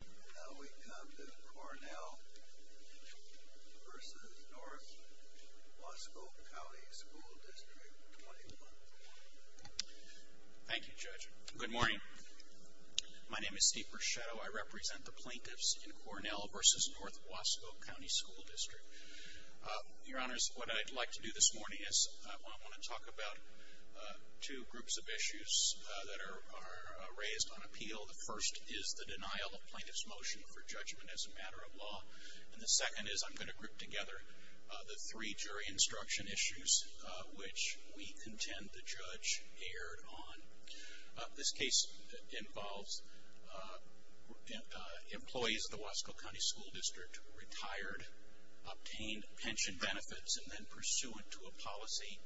Now we come to Cornell v. N Wasco County School District 21. Thank you, Judge. Good morning. My name is Steve Bruchetto. I represent the plaintiffs in Cornell v. N Wasco County School District. Your Honors, what I'd like to do this morning is I want to talk about two groups of issues that are raised on appeal. The first is the denial of plaintiff's motion for judgment as a matter of law, and the second is I'm going to group together the three jury instruction issues which we contend the judge erred on. This case involves employees of the Wasco County School District retired, obtained pension benefits, and then pursuant to a policy,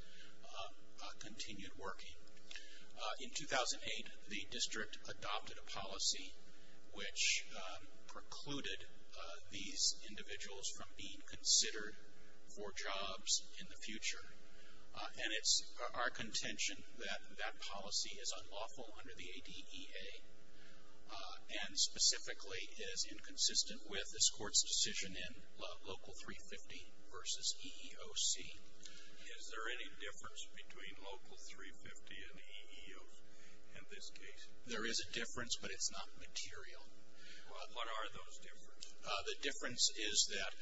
continued working. In 2008, the district adopted a policy which precluded these individuals from being considered for jobs in the future, and it's our contention that that policy is unlawful under the ADEA, and specifically is inconsistent with this court's decision in Local 350 v. EEOC. Is there any difference between Local 350 and EEOC in this case? There is a difference, but it's not material. What are those differences? The difference is that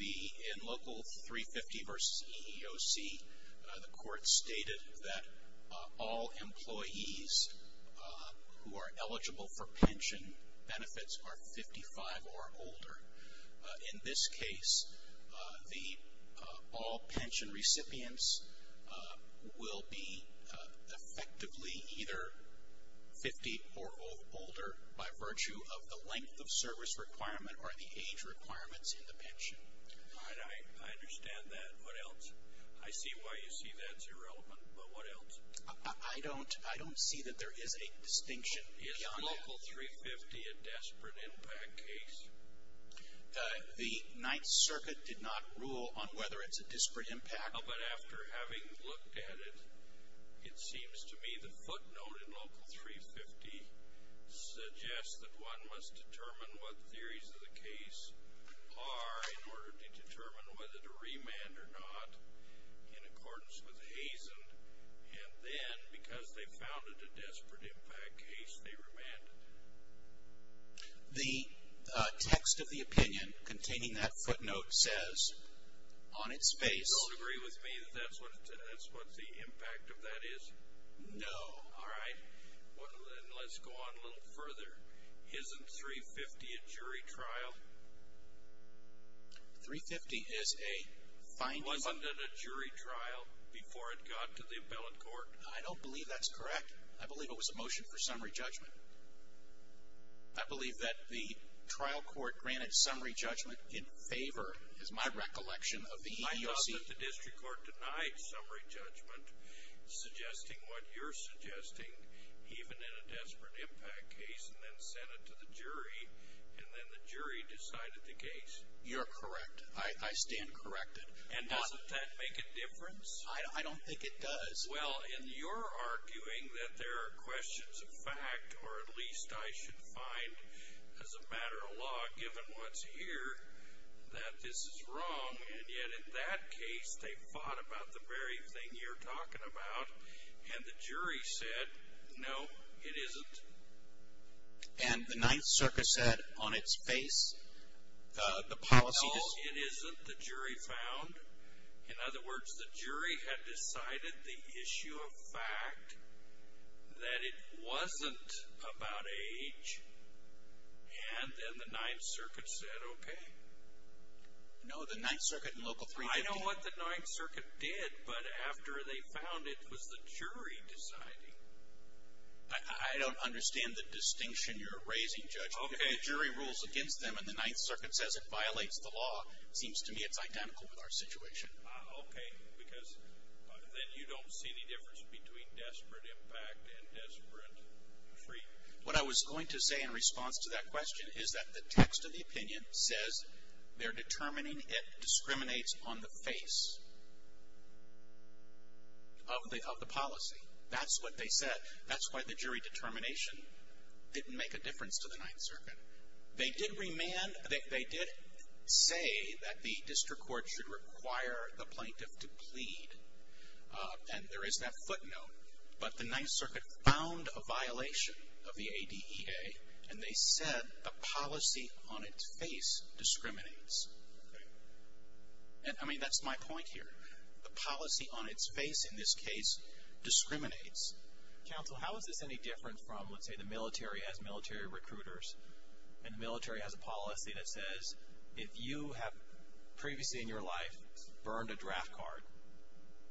in Local 350 v. EEOC, the court stated that all employees who are in this case, all pension recipients will be effectively either 50 or older by virtue of the length of service requirement or the age requirements in the pension. I understand that. What else? I see why you see that as irrelevant, but what else? I don't see that there is a distinction. Is Local 350 a desperate impact case? The Ninth Circuit did not rule on whether it's a desperate impact. But after having looked at it, it seems to me the footnote in Local 350 suggests that one must determine what theories of the case are in order to determine whether to remand or not in accordance with Hazen, and then, because they found it a desperate impact case, they remanded it. The text of the opinion containing that footnote says, on its face... You don't agree with me that that's what the impact of that is? No. All right. Let's go on a little further. Isn't 350 a jury trial? 350 is a finding... Wasn't it a jury trial before it got to the appellate court? I don't believe that's correct. I believe it was a motion for summary judgment. I believe that the trial court granted summary judgment in favor, is my recollection, of the EEOC... My thought is that the district court denied summary judgment, suggesting what you're suggesting, even in a desperate impact case, and then sent it to the jury, and then the jury decided the case. You're correct. I stand corrected. And doesn't that make a difference? I don't think it does. Well, in your arguing that there are questions of fact, or at least I should find, as a matter of law, given what's here, that this is wrong, and yet, in that case, they fought about the very thing you're talking about, and the jury said, no, it isn't. And the Ninth Circuit said, on its face, the policy... The issue of fact, that it wasn't about age, and then the Ninth Circuit said, okay. No, the Ninth Circuit and Local 350... I know what the Ninth Circuit did, but after they found it, it was the jury deciding. I don't understand the distinction you're raising, Judge. Okay. The jury rules against them, and the Ninth Circuit says it violates the law. Seems to me it's identical with our situation. Okay, because then you don't see the difference between desperate impact and desperate treatment. What I was going to say in response to that question is that the text of the opinion says they're determining it discriminates on the face of the policy. That's what they said. That's why the jury determination didn't make a difference to the Ninth Circuit. They did say that the district court should require the plaintiff to plead, and there is that footnote, but the Ninth Circuit found a violation of the ADEA, and they said the policy on its face discriminates. Okay. I mean, that's my point here. The policy on its face, in this case, discriminates. Counsel, how is this any different from, let's say, the military has military recruiters, and the military has a policy that says if you have previously in your life burned a draft card,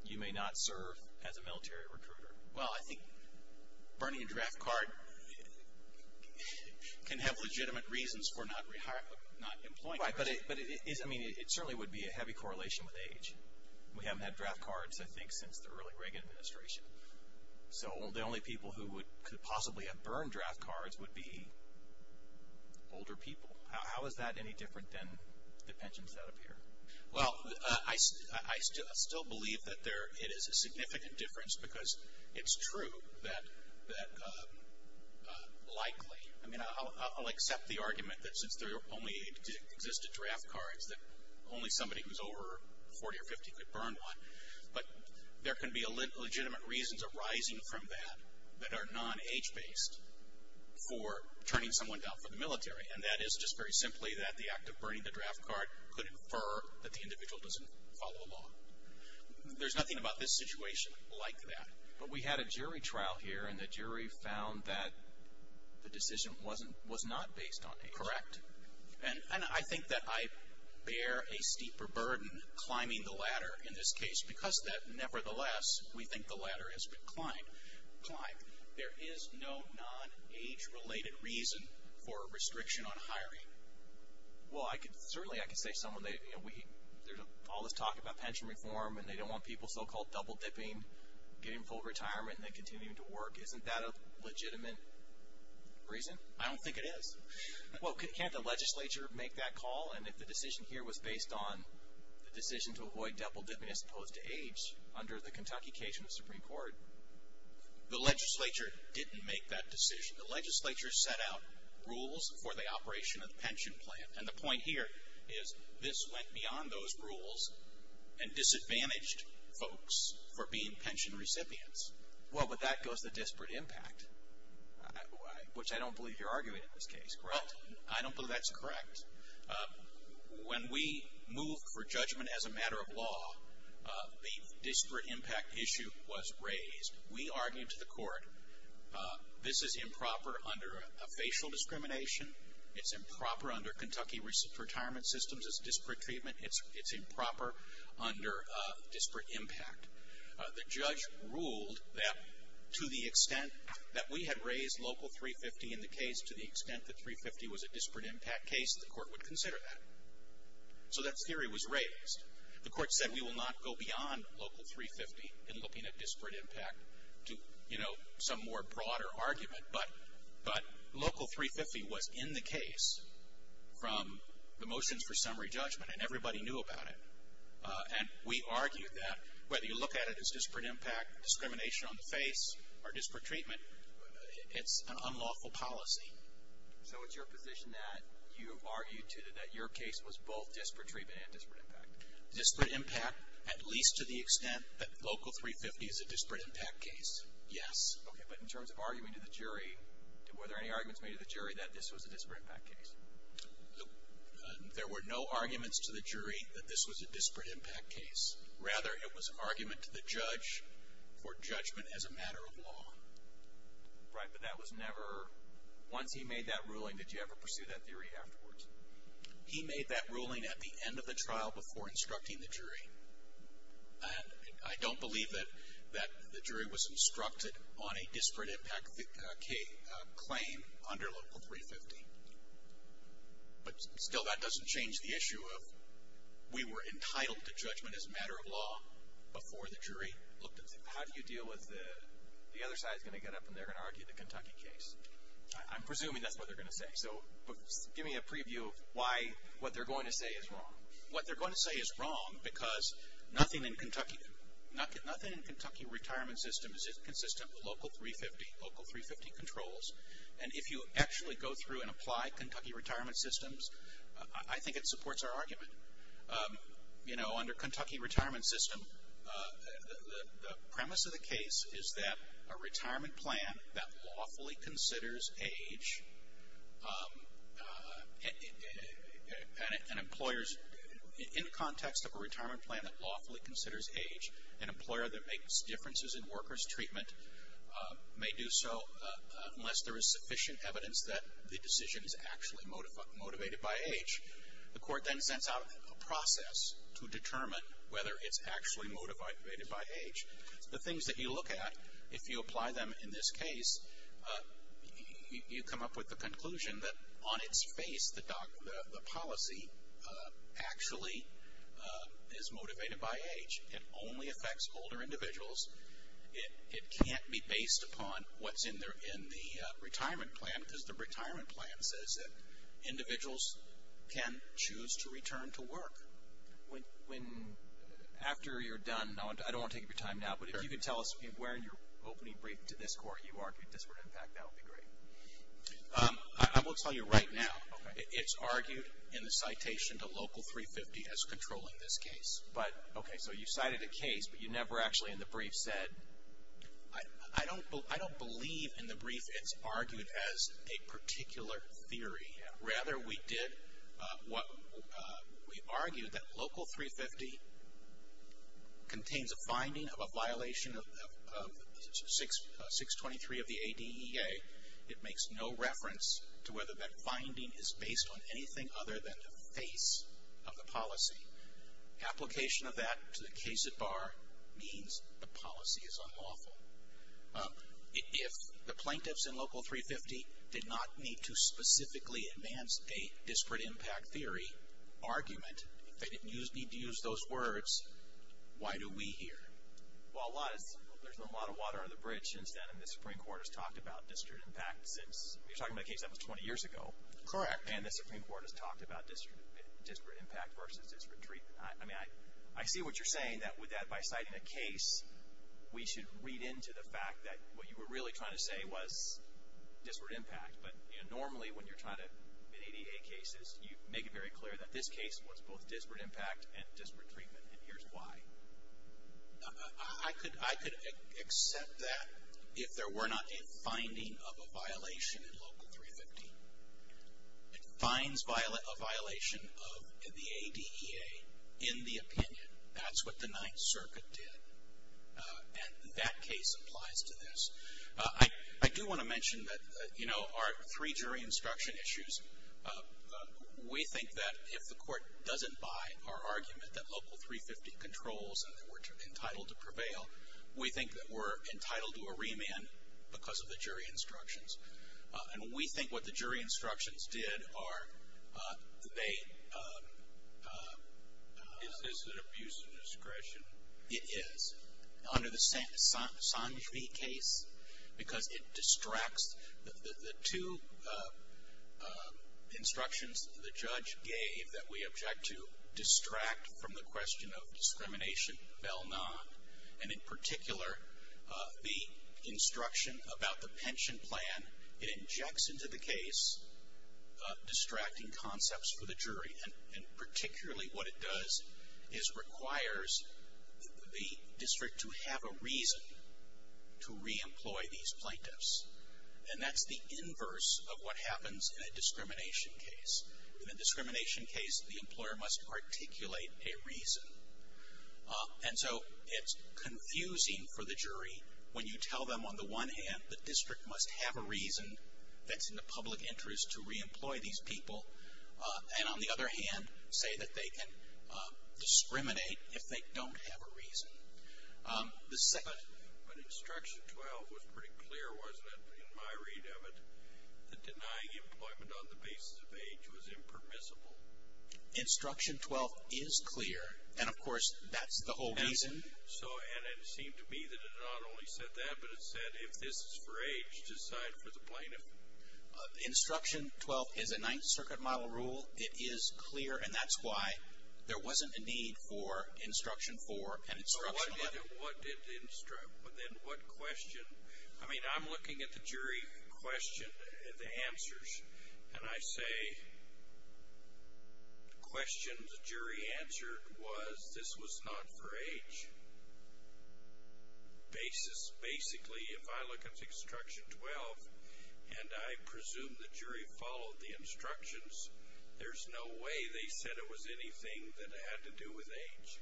you may not serve as a military recruiter. Well, I think burning a draft card can have legitimate reasons for not employing a recruiter. Right, but it certainly would be a heavy correlation with age. We haven't had draft cards, I think, since the early Reagan administration. So the only people who could possibly have burned draft cards would be older people. How is that any different than the pensions that appear? Well, I still believe that it is a significant difference because it's true that likely, I mean, I'll accept the argument that since there only existed draft cards, that only somebody who's over 40 or 50 could burn one, but there can be legitimate reasons arising from that that are non-age-based for turning someone down for the military, and that is just very simply that the act of burning the draft card could infer that the individual doesn't follow along. There's nothing about this situation like that. But we had a jury trial here, and the jury found that the decision was not based on age. Correct. And I think that I bear a steeper burden climbing the ladder in this case, because nevertheless, we think the ladder has been climbed. There is no non-age-related reason for a restriction on hiring. Well, certainly I could say someone, you know, there's all this talk about pension reform, and they don't want people so-called double-dipping, getting full retirement and then continuing to work. Isn't that a legitimate reason? I don't think it is. Well, can't the legislature make that call? And if the decision here was based on the decision to avoid double-dipping as opposed to age under the Kentucky case in the Supreme Court? The legislature didn't make that decision. The legislature set out rules for the operation of the pension plan, and the point here is this went beyond those rules and disadvantaged folks for being pension recipients. Well, but that goes to disparate impact, which I don't believe you're arguing in this case, correct? I don't believe that's correct. When we moved for judgment as a matter of law, the disparate impact issue was raised. We argued to the court, this is improper under a facial discrimination. It's improper under Kentucky retirement systems as disparate treatment. It's improper under disparate impact. The judge ruled that to the extent that we had raised Local 350 in the case to the extent that 350 was a disparate impact case, the court would consider that. So that theory was raised. The court said we will not go beyond Local 350 in looking at disparate impact to, you know, some more broader argument. But Local 350 was in the case from the motions for summary judgment, and everybody knew about it. And we argued that whether you look at it as disparate impact, discrimination on the face, or disparate treatment, it's an unlawful policy. So it's your position that you argued to that your case was both disparate treatment and disparate impact? Disparate impact at least to the extent that Local 350 is a disparate impact case, yes. Okay, but in terms of arguing to the jury, were there any arguments made to the jury that this was a disparate impact case? There were no arguments to the jury that this was a disparate impact case. Rather, it was an argument to the judge for judgment as a matter of law. Right, but that was never, once he made that ruling, did you ever pursue that theory afterwards? He made that ruling at the end of the trial before instructing the jury. I don't believe that the jury was instructed on a disparate impact claim under Local 350. But still, that doesn't change the issue of we were entitled to judgment as a matter of law before the jury looked at it. How do you deal with the other side is going to get up and they're going to argue the Kentucky case? I'm presuming that's what they're going to say. So give me a preview of why what they're going to say is wrong. What they're going to say is wrong because nothing in Kentucky retirement systems is consistent with Local 350, Local 350 controls. And if you actually go through and apply Kentucky retirement systems, I think it supports our argument. You know, under Kentucky retirement system, the premise of the case is that a retirement plan that lawfully considers age and employers, in context of a retirement plan that lawfully considers age, an employer that makes differences in workers' treatment may do so unless there is sufficient evidence that the decision is actually motivated by age. The court then sends out a process to determine whether it's actually motivated by age. The things that you look at, if you apply them in this case, you come up with the conclusion that on its face, the policy actually is motivated by age. It only affects older individuals. It can't be based upon what's in the retirement plan because the retirement plan says that individuals can choose to return to work. When, after you're done, I don't want to take up your time now, but if you could tell us, where in your opening brief to this court you argued this would impact, that would be great. I will tell you right now, it's argued in the citation to Local 350 as controlling this case. But, okay, so you cited a case, but you never actually in the brief said. I don't believe in the brief it's argued as a particular theory. Rather, we did, we argued that Local 350 contains a finding of a violation of 623 of the ADEA. It makes no reference to whether that finding is based on anything other than the face of the policy. Application of that to the case at bar means the policy is unlawful. If the plaintiffs in Local 350 did not need to specifically advance a disparate impact theory argument, if they didn't need to use those words, why do we here? Well, there's been a lot of water on the bridge since then. The Supreme Court has talked about disparate impact since, you're talking about a case that was 20 years ago. Correct. And the Supreme Court has talked about disparate impact versus disparate treatment. I mean, I see what you're saying, that with that, by citing a case, we should read into the fact that what you were really trying to say was disparate impact. But normally when you're trying to, in ADEA cases, you make it very clear that this case was both disparate impact and disparate treatment. And here's why. I could accept that if there were not a finding of a violation in Local 350. It finds a violation of the ADEA in the opinion. That's what the Ninth Circuit did. And that case applies to this. I do want to mention that, you know, our three jury instruction issues, we think that if the Court doesn't buy our argument that Local 350 controls and that we're entitled to prevail, we think that we're entitled to a remand because of the jury instructions. And we think what the jury instructions did are they... Is this an abuse of discretion? It is. Under the Sanjvi case, because it distracts... The two instructions the judge gave, that we object to distract from the question of discrimination, fell nond. And in particular, the instruction about the pension plan, it injects into the case distracting concepts for the jury. And particularly what it does is requires the district to have a reason to re-employ these plaintiffs. And that's the inverse of what happens in a discrimination case. In a discrimination case, the employer must articulate a reason. And so it's confusing for the jury when you tell them, on the one hand, the district must have a reason that's in the public interest to re-employ these people. And on the other hand, say that they can discriminate if they don't have a reason. The second... But instruction 12 was pretty clear, wasn't it, in my read of it, that denying employment on the basis of age was impermissible. Instruction 12 is clear. And, of course, that's the whole reason. And it seemed to me that it not only said that, but it said if this is for age, decide for the plaintiff. Instruction 12 is a Ninth Circuit model rule. It is clear, and that's why there wasn't a need for instruction 4 and instruction 11. Then what question... I mean, I'm looking at the jury question, the answers, and I say the question the jury answered was this was not for age. Basically, if I look at instruction 12 and I presume the jury followed the instructions, there's no way they said it was anything that had to do with age.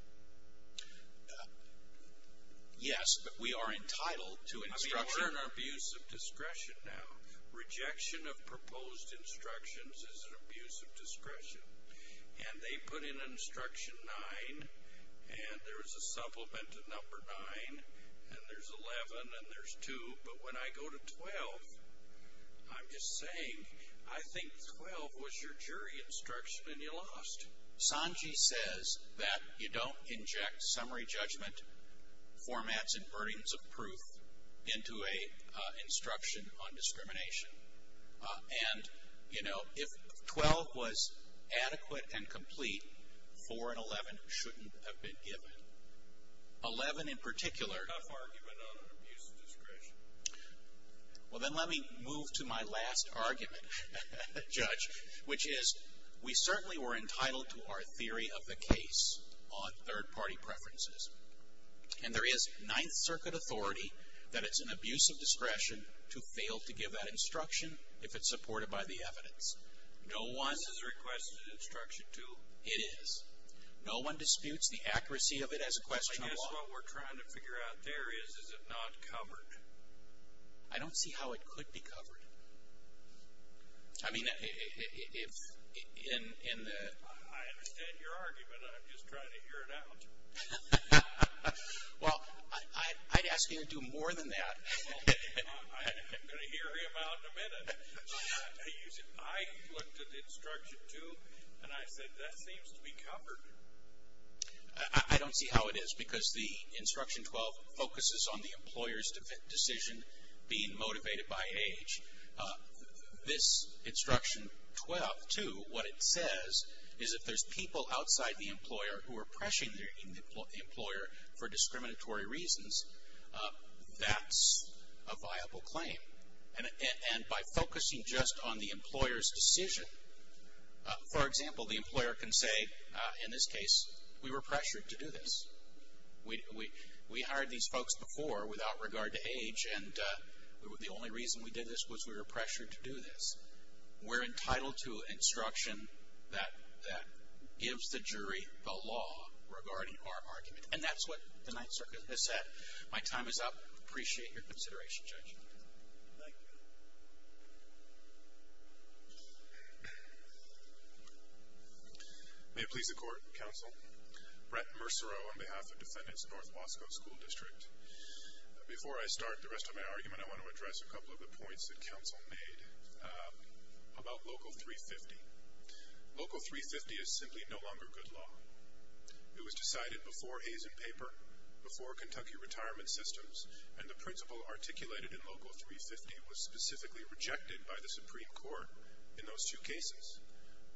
Yes, but we are entitled to instruction. I mean, we're in abuse of discretion now. Rejection of proposed instructions is an abuse of discretion. And they put in instruction 9, and there is a supplement to number 9, and there's 11, and there's 2. But when I go to 12, I'm just saying I think 12 was your jury instruction, and you lost. Sanji says that you don't inject summary judgment formats and burdens of proof into an instruction on discrimination. And, you know, if 12 was adequate and complete, 4 and 11 shouldn't have been given. 11 in particular... Tough argument on abuse of discretion. Well, then let me move to my last argument, Judge, which is we certainly were entitled to our theory of the case on third-party preferences. And there is Ninth Circuit authority that it's an abuse of discretion to fail to give that instruction if it's supported by the evidence. No one... This is a requested instruction, too. It is. No one disputes the accuracy of it as a question of law. I guess what we're trying to figure out there is, is it not covered? I don't see how it could be covered. I mean, if... I understand your argument. I'm just trying to hear it out. Well, I'd ask you to do more than that. I'm going to hear him out in a minute. I looked at Instruction 2, and I said that seems to be covered. I don't see how it is, because the Instruction 12 focuses on the employer's decision being motivated by age. This Instruction 12, too, what it says is if there's people outside the employer who are pressuring the employer for discriminatory reasons, that's a viable claim. And by focusing just on the employer's decision, for example, the employer can say, in this case, we were pressured to do this. We hired these folks before without regard to age, and the only reason we did this was we were pressured to do this. We're entitled to instruction that gives the jury the law regarding our argument. And that's what the Ninth Circuit has said. My time is up. I appreciate your consideration, Judge. Thank you. May it please the Court, Counsel. Brett Mercereau on behalf of Defendants of North Bosco School District. Before I start the rest of my argument, I want to address a couple of the points that Counsel made about Local 350. Local 350 is simply no longer good law. It was decided before Hays and Paper, before Kentucky Retirement Systems, and the principle articulated in Local 350 was specifically rejected by the Supreme Court in those two cases,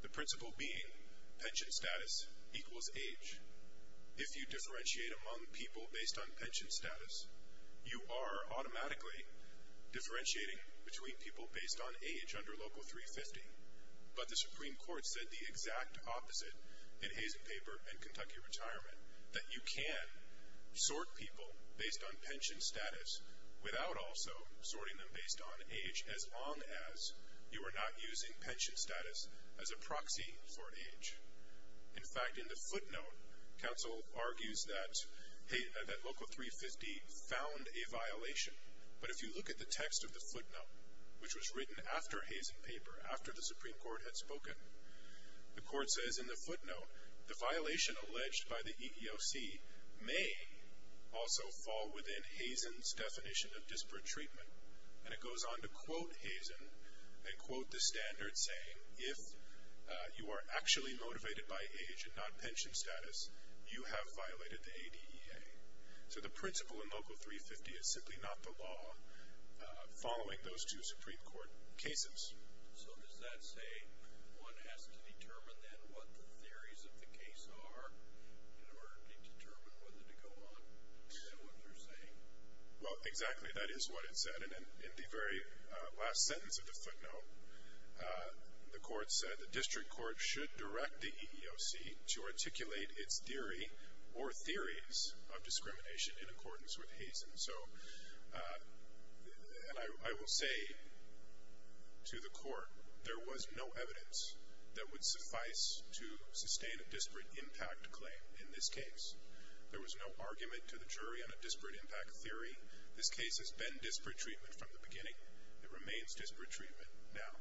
the principle being pension status equals age. If you differentiate among people based on pension status, you are automatically differentiating between people based on age under Local 350. But the Supreme Court said the exact opposite in Hays and Paper and Kentucky Retirement, that you can sort people based on pension status without also sorting them based on age, as long as you are not using pension status as a proxy for age. In fact, in the footnote, Counsel argues that Local 350 found a violation. But if you look at the text of the footnote, which was written after Hays and Paper, after the Supreme Court had spoken, the Court says in the footnote, the violation alleged by the EEOC may also fall within Hays and's definition of disparate treatment. And it goes on to quote Hays and, and quote the standard saying, if you are actually motivated by age and not pension status, you have violated the ADEA. So the principle in Local 350 is simply not the law following those two Supreme Court cases. So does that say one has to determine then what the theories of the case are in order to determine whether to go on with what they're saying? Well, exactly. That is what it said. And in the very last sentence of the footnote, the Court said, the District Court should direct the EEOC to articulate its theory or theories of discrimination in accordance with Hays and. So, and I will say to the Court, there was no evidence that would suffice to sustain a disparate impact claim in this case. There was no argument to the jury on a disparate impact theory. This case has been disparate treatment from the beginning. It remains disparate treatment now.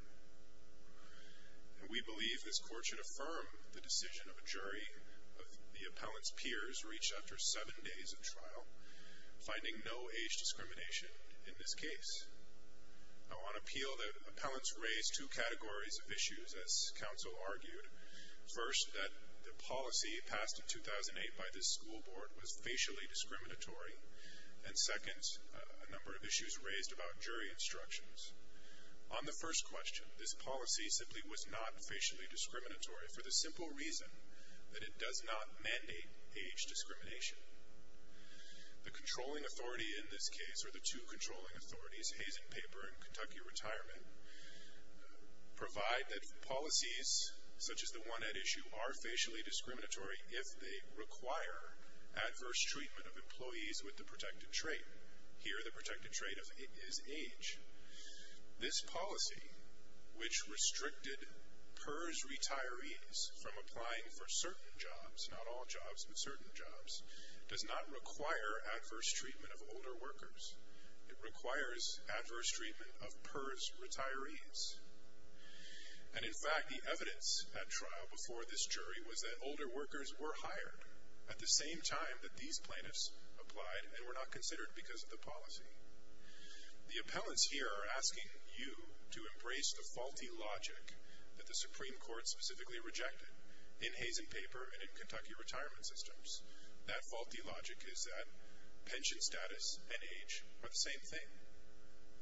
And we believe this Court should affirm the decision of a jury, of the appellant's peers reached after seven days of trial, finding no age discrimination in this case. On appeal, the appellants raised two categories of issues, as counsel argued. First, that the policy passed in 2008 by this school board was facially discriminatory. And second, a number of issues raised about jury instructions. On the first question, this policy simply was not facially discriminatory for the simple reason that it does not mandate age discrimination. The controlling authority in this case, or the two controlling authorities, Hazen Paper and Kentucky Retirement, provide that policies such as the one at issue are facially discriminatory if they require adverse treatment of employees with the protected trait. Here, the protected trait is age. This policy, which restricted PERS retirees from applying for certain jobs, not all jobs, but certain jobs, does not require adverse treatment of older workers. It requires adverse treatment of PERS retirees. And in fact, the evidence at trial before this jury was that older workers were hired at the same time that these plaintiffs applied and were not considered because of the policy. The appellants here are asking you to embrace the faulty logic that the Supreme Court specifically rejected in Hazen Paper and in Kentucky Retirement systems. That faulty logic is that pension status and age are the same thing.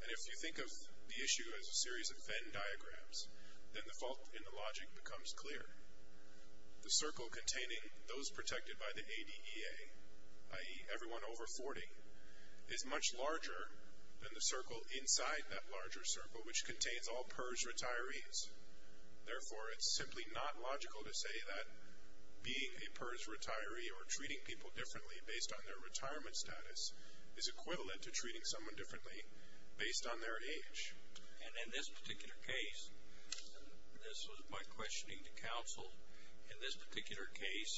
And if you think of the issue as a series of Venn diagrams, then the fault in the logic becomes clear. The circle containing those protected by the ADEA, i.e., everyone over 40, is much larger than the circle inside that larger circle, which contains all PERS retirees. Therefore, it's simply not logical to say that being a PERS retiree or treating people differently based on their retirement status is equivalent to treating someone differently based on their age. And in this particular case, this was my questioning to counsel, in this particular case,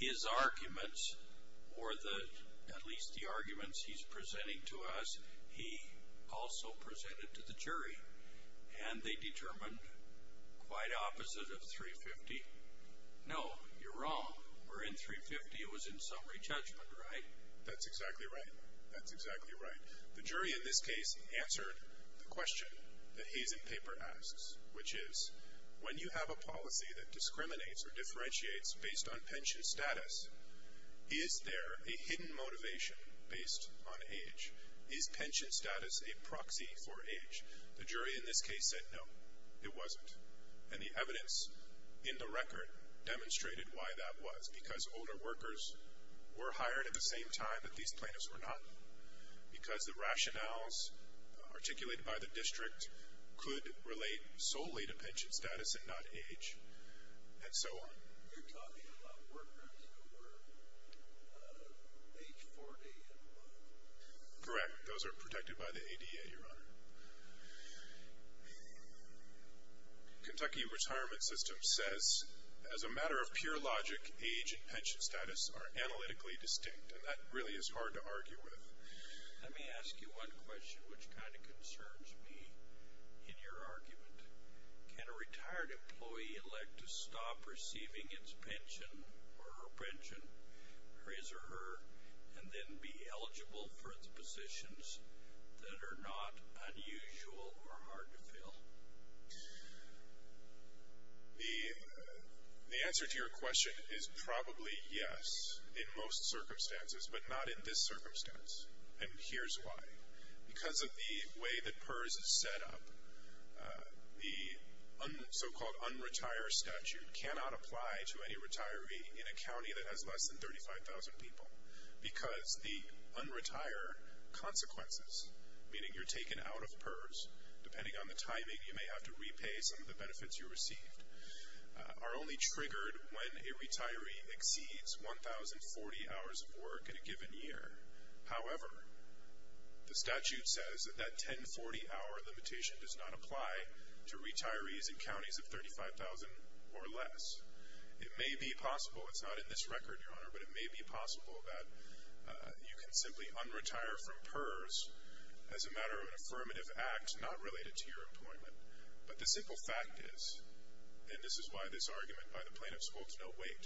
his arguments, or at least the arguments he's presenting to us, he also presented to the jury, and they determined quite opposite of 350. No, you're wrong. We're in 350. It was in summary judgment, right? That's exactly right. That's exactly right. The jury in this case answered the question that Hazen Paper asks, which is, when you have a policy that discriminates or differentiates based on pension status, is there a hidden motivation based on age? Is pension status a proxy for age? The jury in this case said no, it wasn't. And the evidence in the record demonstrated why that was, because older workers were hired at the same time that these plaintiffs were not, because the rationales articulated by the district could relate solely to pension status and not age, and so on. You're talking about workers who were age 40 and above? Correct. Those are protected by the ADA, Your Honor. Kentucky Retirement System says, as a matter of pure logic, age and pension status are analytically distinct, and that really is hard to argue with. Let me ask you one question which kind of concerns me in your argument. Can a retired employee elect to stop receiving his pension or her pension, his or her, and then be eligible for the positions that are not unusual or hard to fill? The answer to your question is probably yes, in most circumstances, but not in this circumstance. And here's why. Because of the way that PERS is set up, the so-called un-retire statute cannot apply to any retiree in a county that has less than 35,000 people, because the un-retire consequences, meaning you're taken out of PERS, depending on the timing you may have to repay some of the benefits you received, are only triggered when a retiree exceeds 1,040 hours of work in a given year. However, the statute says that that 1,040-hour limitation does not apply to retirees in counties of 35,000 or less. It may be possible, it's not in this record, Your Honor, but it may be possible that you can simply un-retire from PERS as a matter of an affirmative act not related to your employment. But the simple fact is, and this is why this argument by the plaintiffs holds no weight,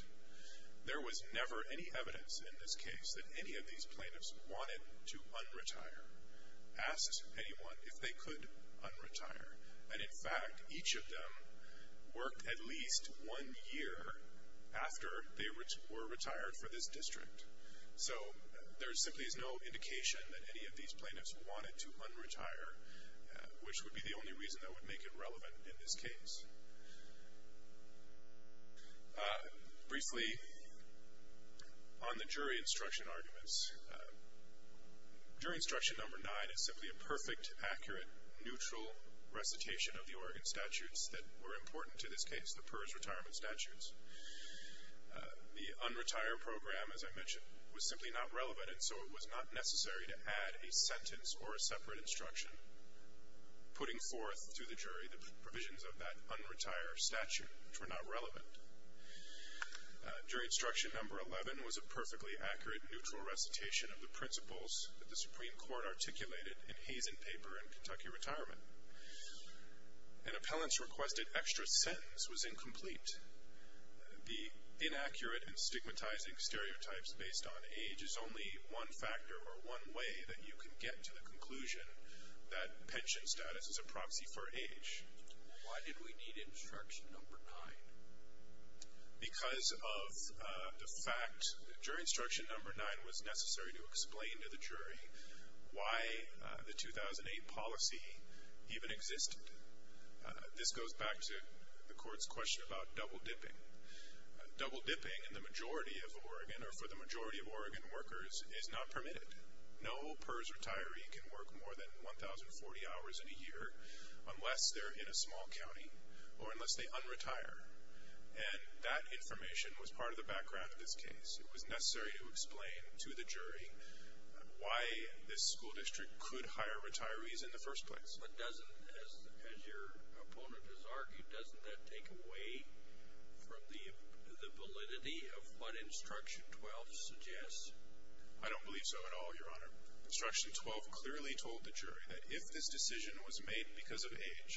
there was never any evidence in this case that any of these plaintiffs wanted to un-retire, asked anyone if they could un-retire. And, in fact, each of them worked at least one year after they were retired for this district. So there simply is no indication that any of these plaintiffs wanted to un-retire, which would be the only reason that would make it relevant in this case. Briefly, on the jury instruction arguments, jury instruction number nine is simply a perfect, accurate, neutral recitation of the Oregon statutes that were important to this case, the PERS retirement statutes. The un-retire program, as I mentioned, was simply not relevant, and so it was not necessary to add a sentence or a separate instruction putting forth to the jury the provisions of that un-retire statute, which were not relevant. Jury instruction number 11 was a perfectly accurate, neutral recitation of the principles that the Supreme Court articulated in Hazen paper in Kentucky retirement. An appellant's requested extra sentence was incomplete. The inaccurate and stigmatizing stereotypes based on age is only one factor or one way that you can get to the conclusion that pension status is a proxy for age. Why did we need instruction number nine? Because of the fact that jury instruction number nine was necessary to explain to the jury why the 2008 policy even existed. This goes back to the Court's question about double-dipping. Double-dipping in the majority of Oregon or for the majority of Oregon workers is not permitted. No PERS retiree can work more than 1,040 hours in a year unless they're in a small county or unless they un-retire, and that information was part of the background of this case. It was necessary to explain to the jury why this school district could hire retirees in the first place. But doesn't, as your opponent has argued, doesn't that take away from the validity of what instruction 12 suggests? I don't believe so at all, Your Honor. Instruction 12 clearly told the jury that if this decision was made because of age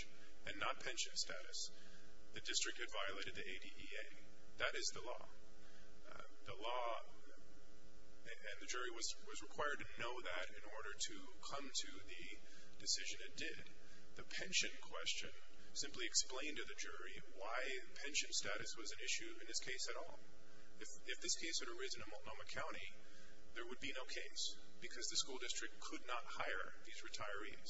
and not pension status, the district had violated the ADEA. That is the law. The law and the jury was required to know that in order to come to the decision it did. The pension question simply explained to the jury why pension status was an issue in this case at all. If this case had arisen in Multnomah County, there would be no case because the school district could not hire these retirees,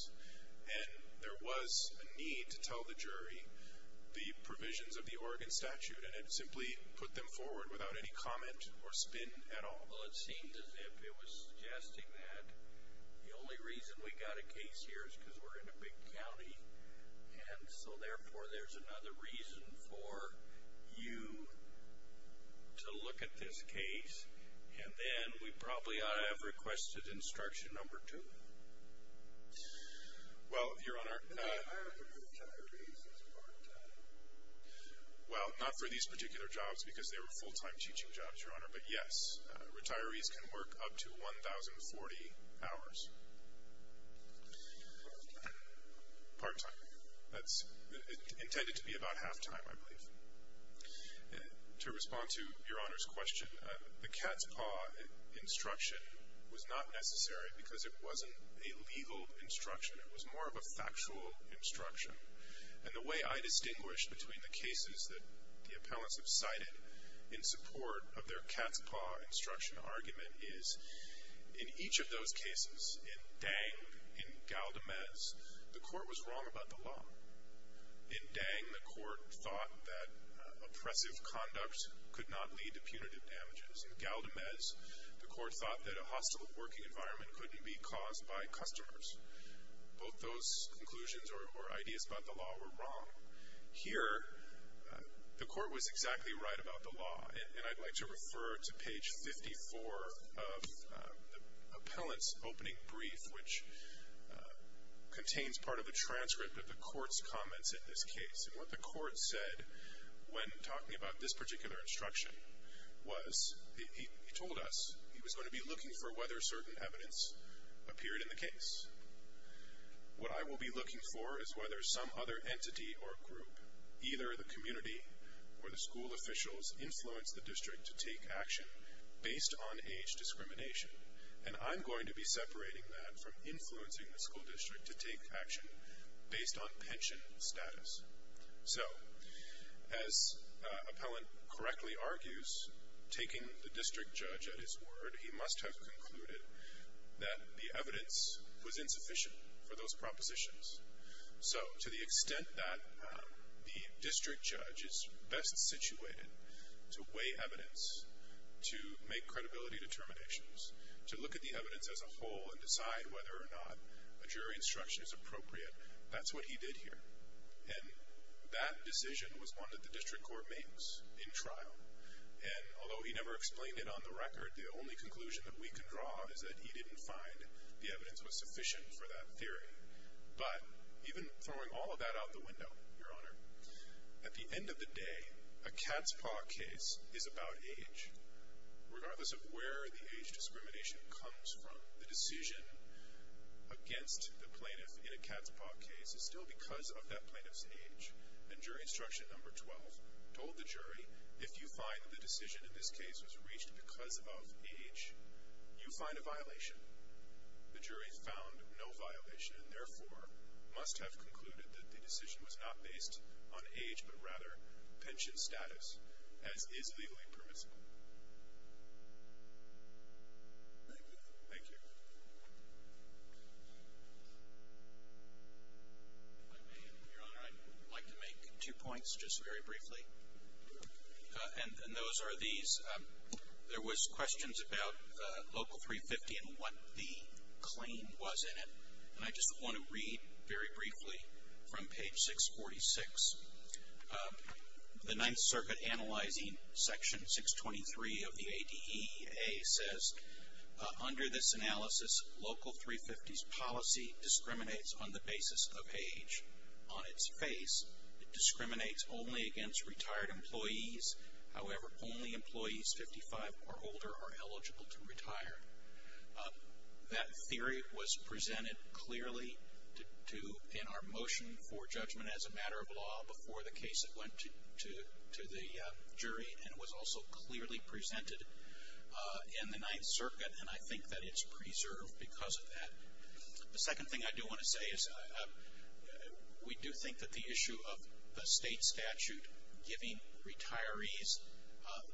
and there was a need to tell the jury the provisions of the Oregon statute, and it simply put them forward without any comment or spin at all. Well, it seems as if it was suggesting that the only reason we got a case here is because we're in a big county, and so, therefore, there's another reason for you to look at this case, and then we probably ought to have requested instruction number 2. Well, Your Honor, The hire of the retirees is part-time. Well, not for these particular jobs because they were full-time teaching jobs, Your Honor, but yes, retirees can work up to 1,040 hours. Part-time. That's intended to be about half-time, I believe. To respond to Your Honor's question, the cat's paw instruction was not necessary because it wasn't a legal instruction. It was more of a factual instruction, and the way I distinguish between the cases that the appellants have cited in support of their cat's paw instruction argument is In each of those cases, in Dang, in Galdemez, the court was wrong about the law. In Dang, the court thought that oppressive conduct could not lead to punitive damages. In Galdemez, the court thought that a hostile working environment couldn't be caused by customers. Both those conclusions or ideas about the law were wrong. Here, the court was exactly right about the law, and I'd like to refer to page 54 of the appellant's opening brief, which contains part of the transcript of the court's comments at this case, and what the court said when talking about this particular instruction was, he told us he was going to be looking for whether certain evidence appeared in the case. What I will be looking for is whether some other entity or group, either the community or the school officials, influenced the district to take action based on age discrimination, and I'm going to be separating that from influencing the school district to take action based on pension status. So, as appellant correctly argues, taking the district judge at his word, he must have concluded that the evidence was insufficient for those propositions. So, to the extent that the district judge is best situated to weigh evidence, to make credibility determinations, to look at the evidence as a whole and decide whether or not a jury instruction is appropriate, that's what he did here. And that decision was one that the district court makes in trial, and although he never explained it on the record, the only conclusion that we can draw is that he didn't find the evidence was sufficient for that theory. But, even throwing all of that out the window, Your Honor, at the end of the day, a cat's paw case is about age. Regardless of where the age discrimination comes from, the decision against the plaintiff in a cat's paw case is still because of that plaintiff's age. And jury instruction number 12 told the jury, if you find that the decision in this case was reached because of age, you find a violation. The jury found no violation and, therefore, must have concluded that the decision was not based on age, but rather pension status, as is legally permissible. Thank you. Thank you. If I may, Your Honor, I'd like to make two points, just very briefly. And those are these. There was questions about Local 350 and what the claim was in it, and I just want to read, very briefly, from page 646. The Ninth Circuit, analyzing section 623 of the ADEA, says, Under this analysis, Local 350's policy discriminates on the basis of age. On its face, it discriminates only against retired employees. However, only employees 55 or older are eligible to retire. That theory was presented clearly to, in our motion for judgment as a matter of law, before the case went to the jury, and was also clearly presented in the Ninth Circuit, and I think that it's preserved because of that. The second thing I do want to say is, we do think that the issue of the state statute giving retirees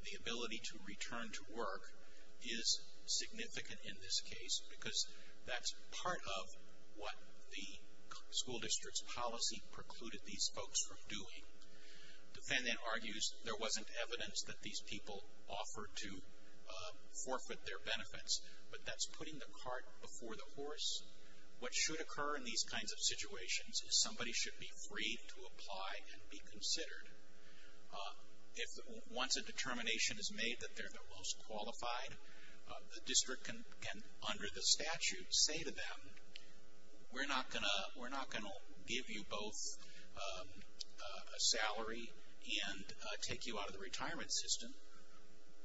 the ability to return to work is significant in this case because that's part of what the school district's policy precluded these folks from doing. The defendant argues there wasn't evidence that these people offered to forfeit their benefits, What should occur in these kinds of situations is somebody should be free to apply and be considered. Once a determination is made that they're the most qualified, the district can, under the statute, say to them, We're not going to give you both a salary and take you out of the retirement system.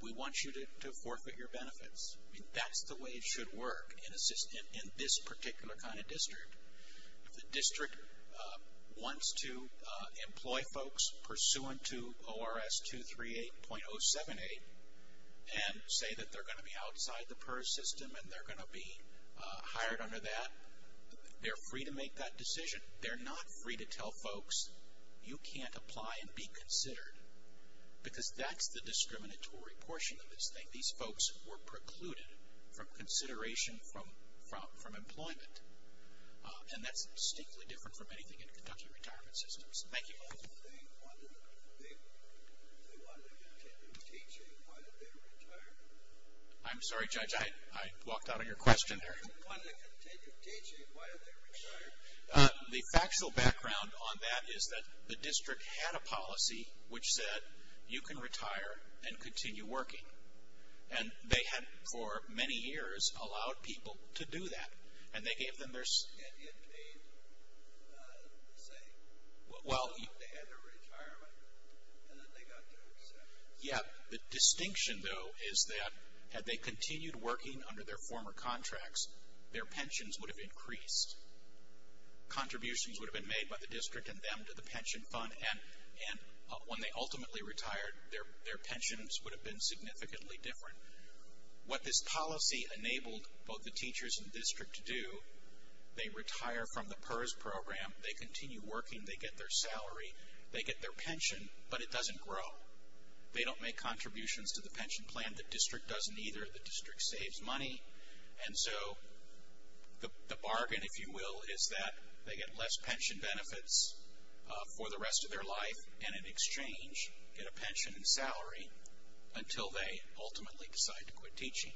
We want you to forfeit your benefits. That's the way it should work in this particular kind of district. If the district wants to employ folks pursuant to ORS 238.078 and say that they're going to be outside the PERS system and they're going to be hired under that, they're free to make that decision. They're not free to tell folks you can't apply and be considered because that's the discriminatory portion of this thing. These folks were precluded from consideration from employment. And that's distinctly different from anything in Kentucky retirement systems. Thank you. They wanted to continue teaching while they retired? I'm sorry, Judge, I walked out on your question there. They wanted to continue teaching while they retired? The factual background on that is that the district had a policy which said, You can retire and continue working. And they had, for many years, allowed people to do that. And they gave them their say. They had their retirement and then they got their recession. Yeah. The distinction, though, is that had they continued working under their former contracts, their pensions would have increased. Contributions would have been made by the district and them to the pension fund. And when they ultimately retired, their pensions would have been significantly different. What this policy enabled both the teachers and district to do, they retire from the PERS program, they continue working, they get their salary, they get their pension, but it doesn't grow. They don't make contributions to the pension plan. The district doesn't either. The district saves money. And so the bargain, if you will, is that they get less pension benefits for the rest of their life and in exchange get a pension and salary until they ultimately decide to quit teaching.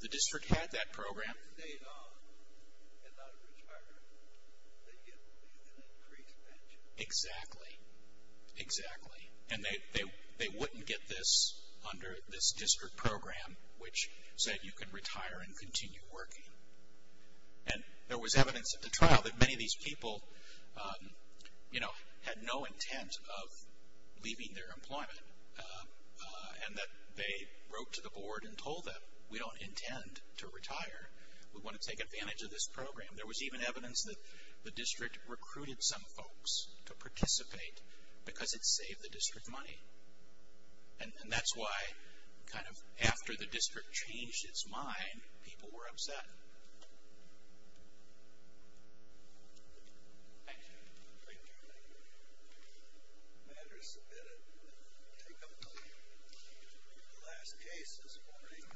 The district had that program. They did not retire. They get an increased pension. Exactly. Exactly. And they wouldn't get this under this district program, which said you can retire and continue working. And there was evidence at the trial that many of these people, you know, had no intent of leaving their employment and that they wrote to the board and told them, we don't intend to retire. We want to take advantage of this program. There was even evidence that the district recruited some folks to participate because it saved the district money. And that's why kind of after the district changed its mind, people were upset. Thank you. Thank you. The matter is submitted. We'll take a look at the last case this morning.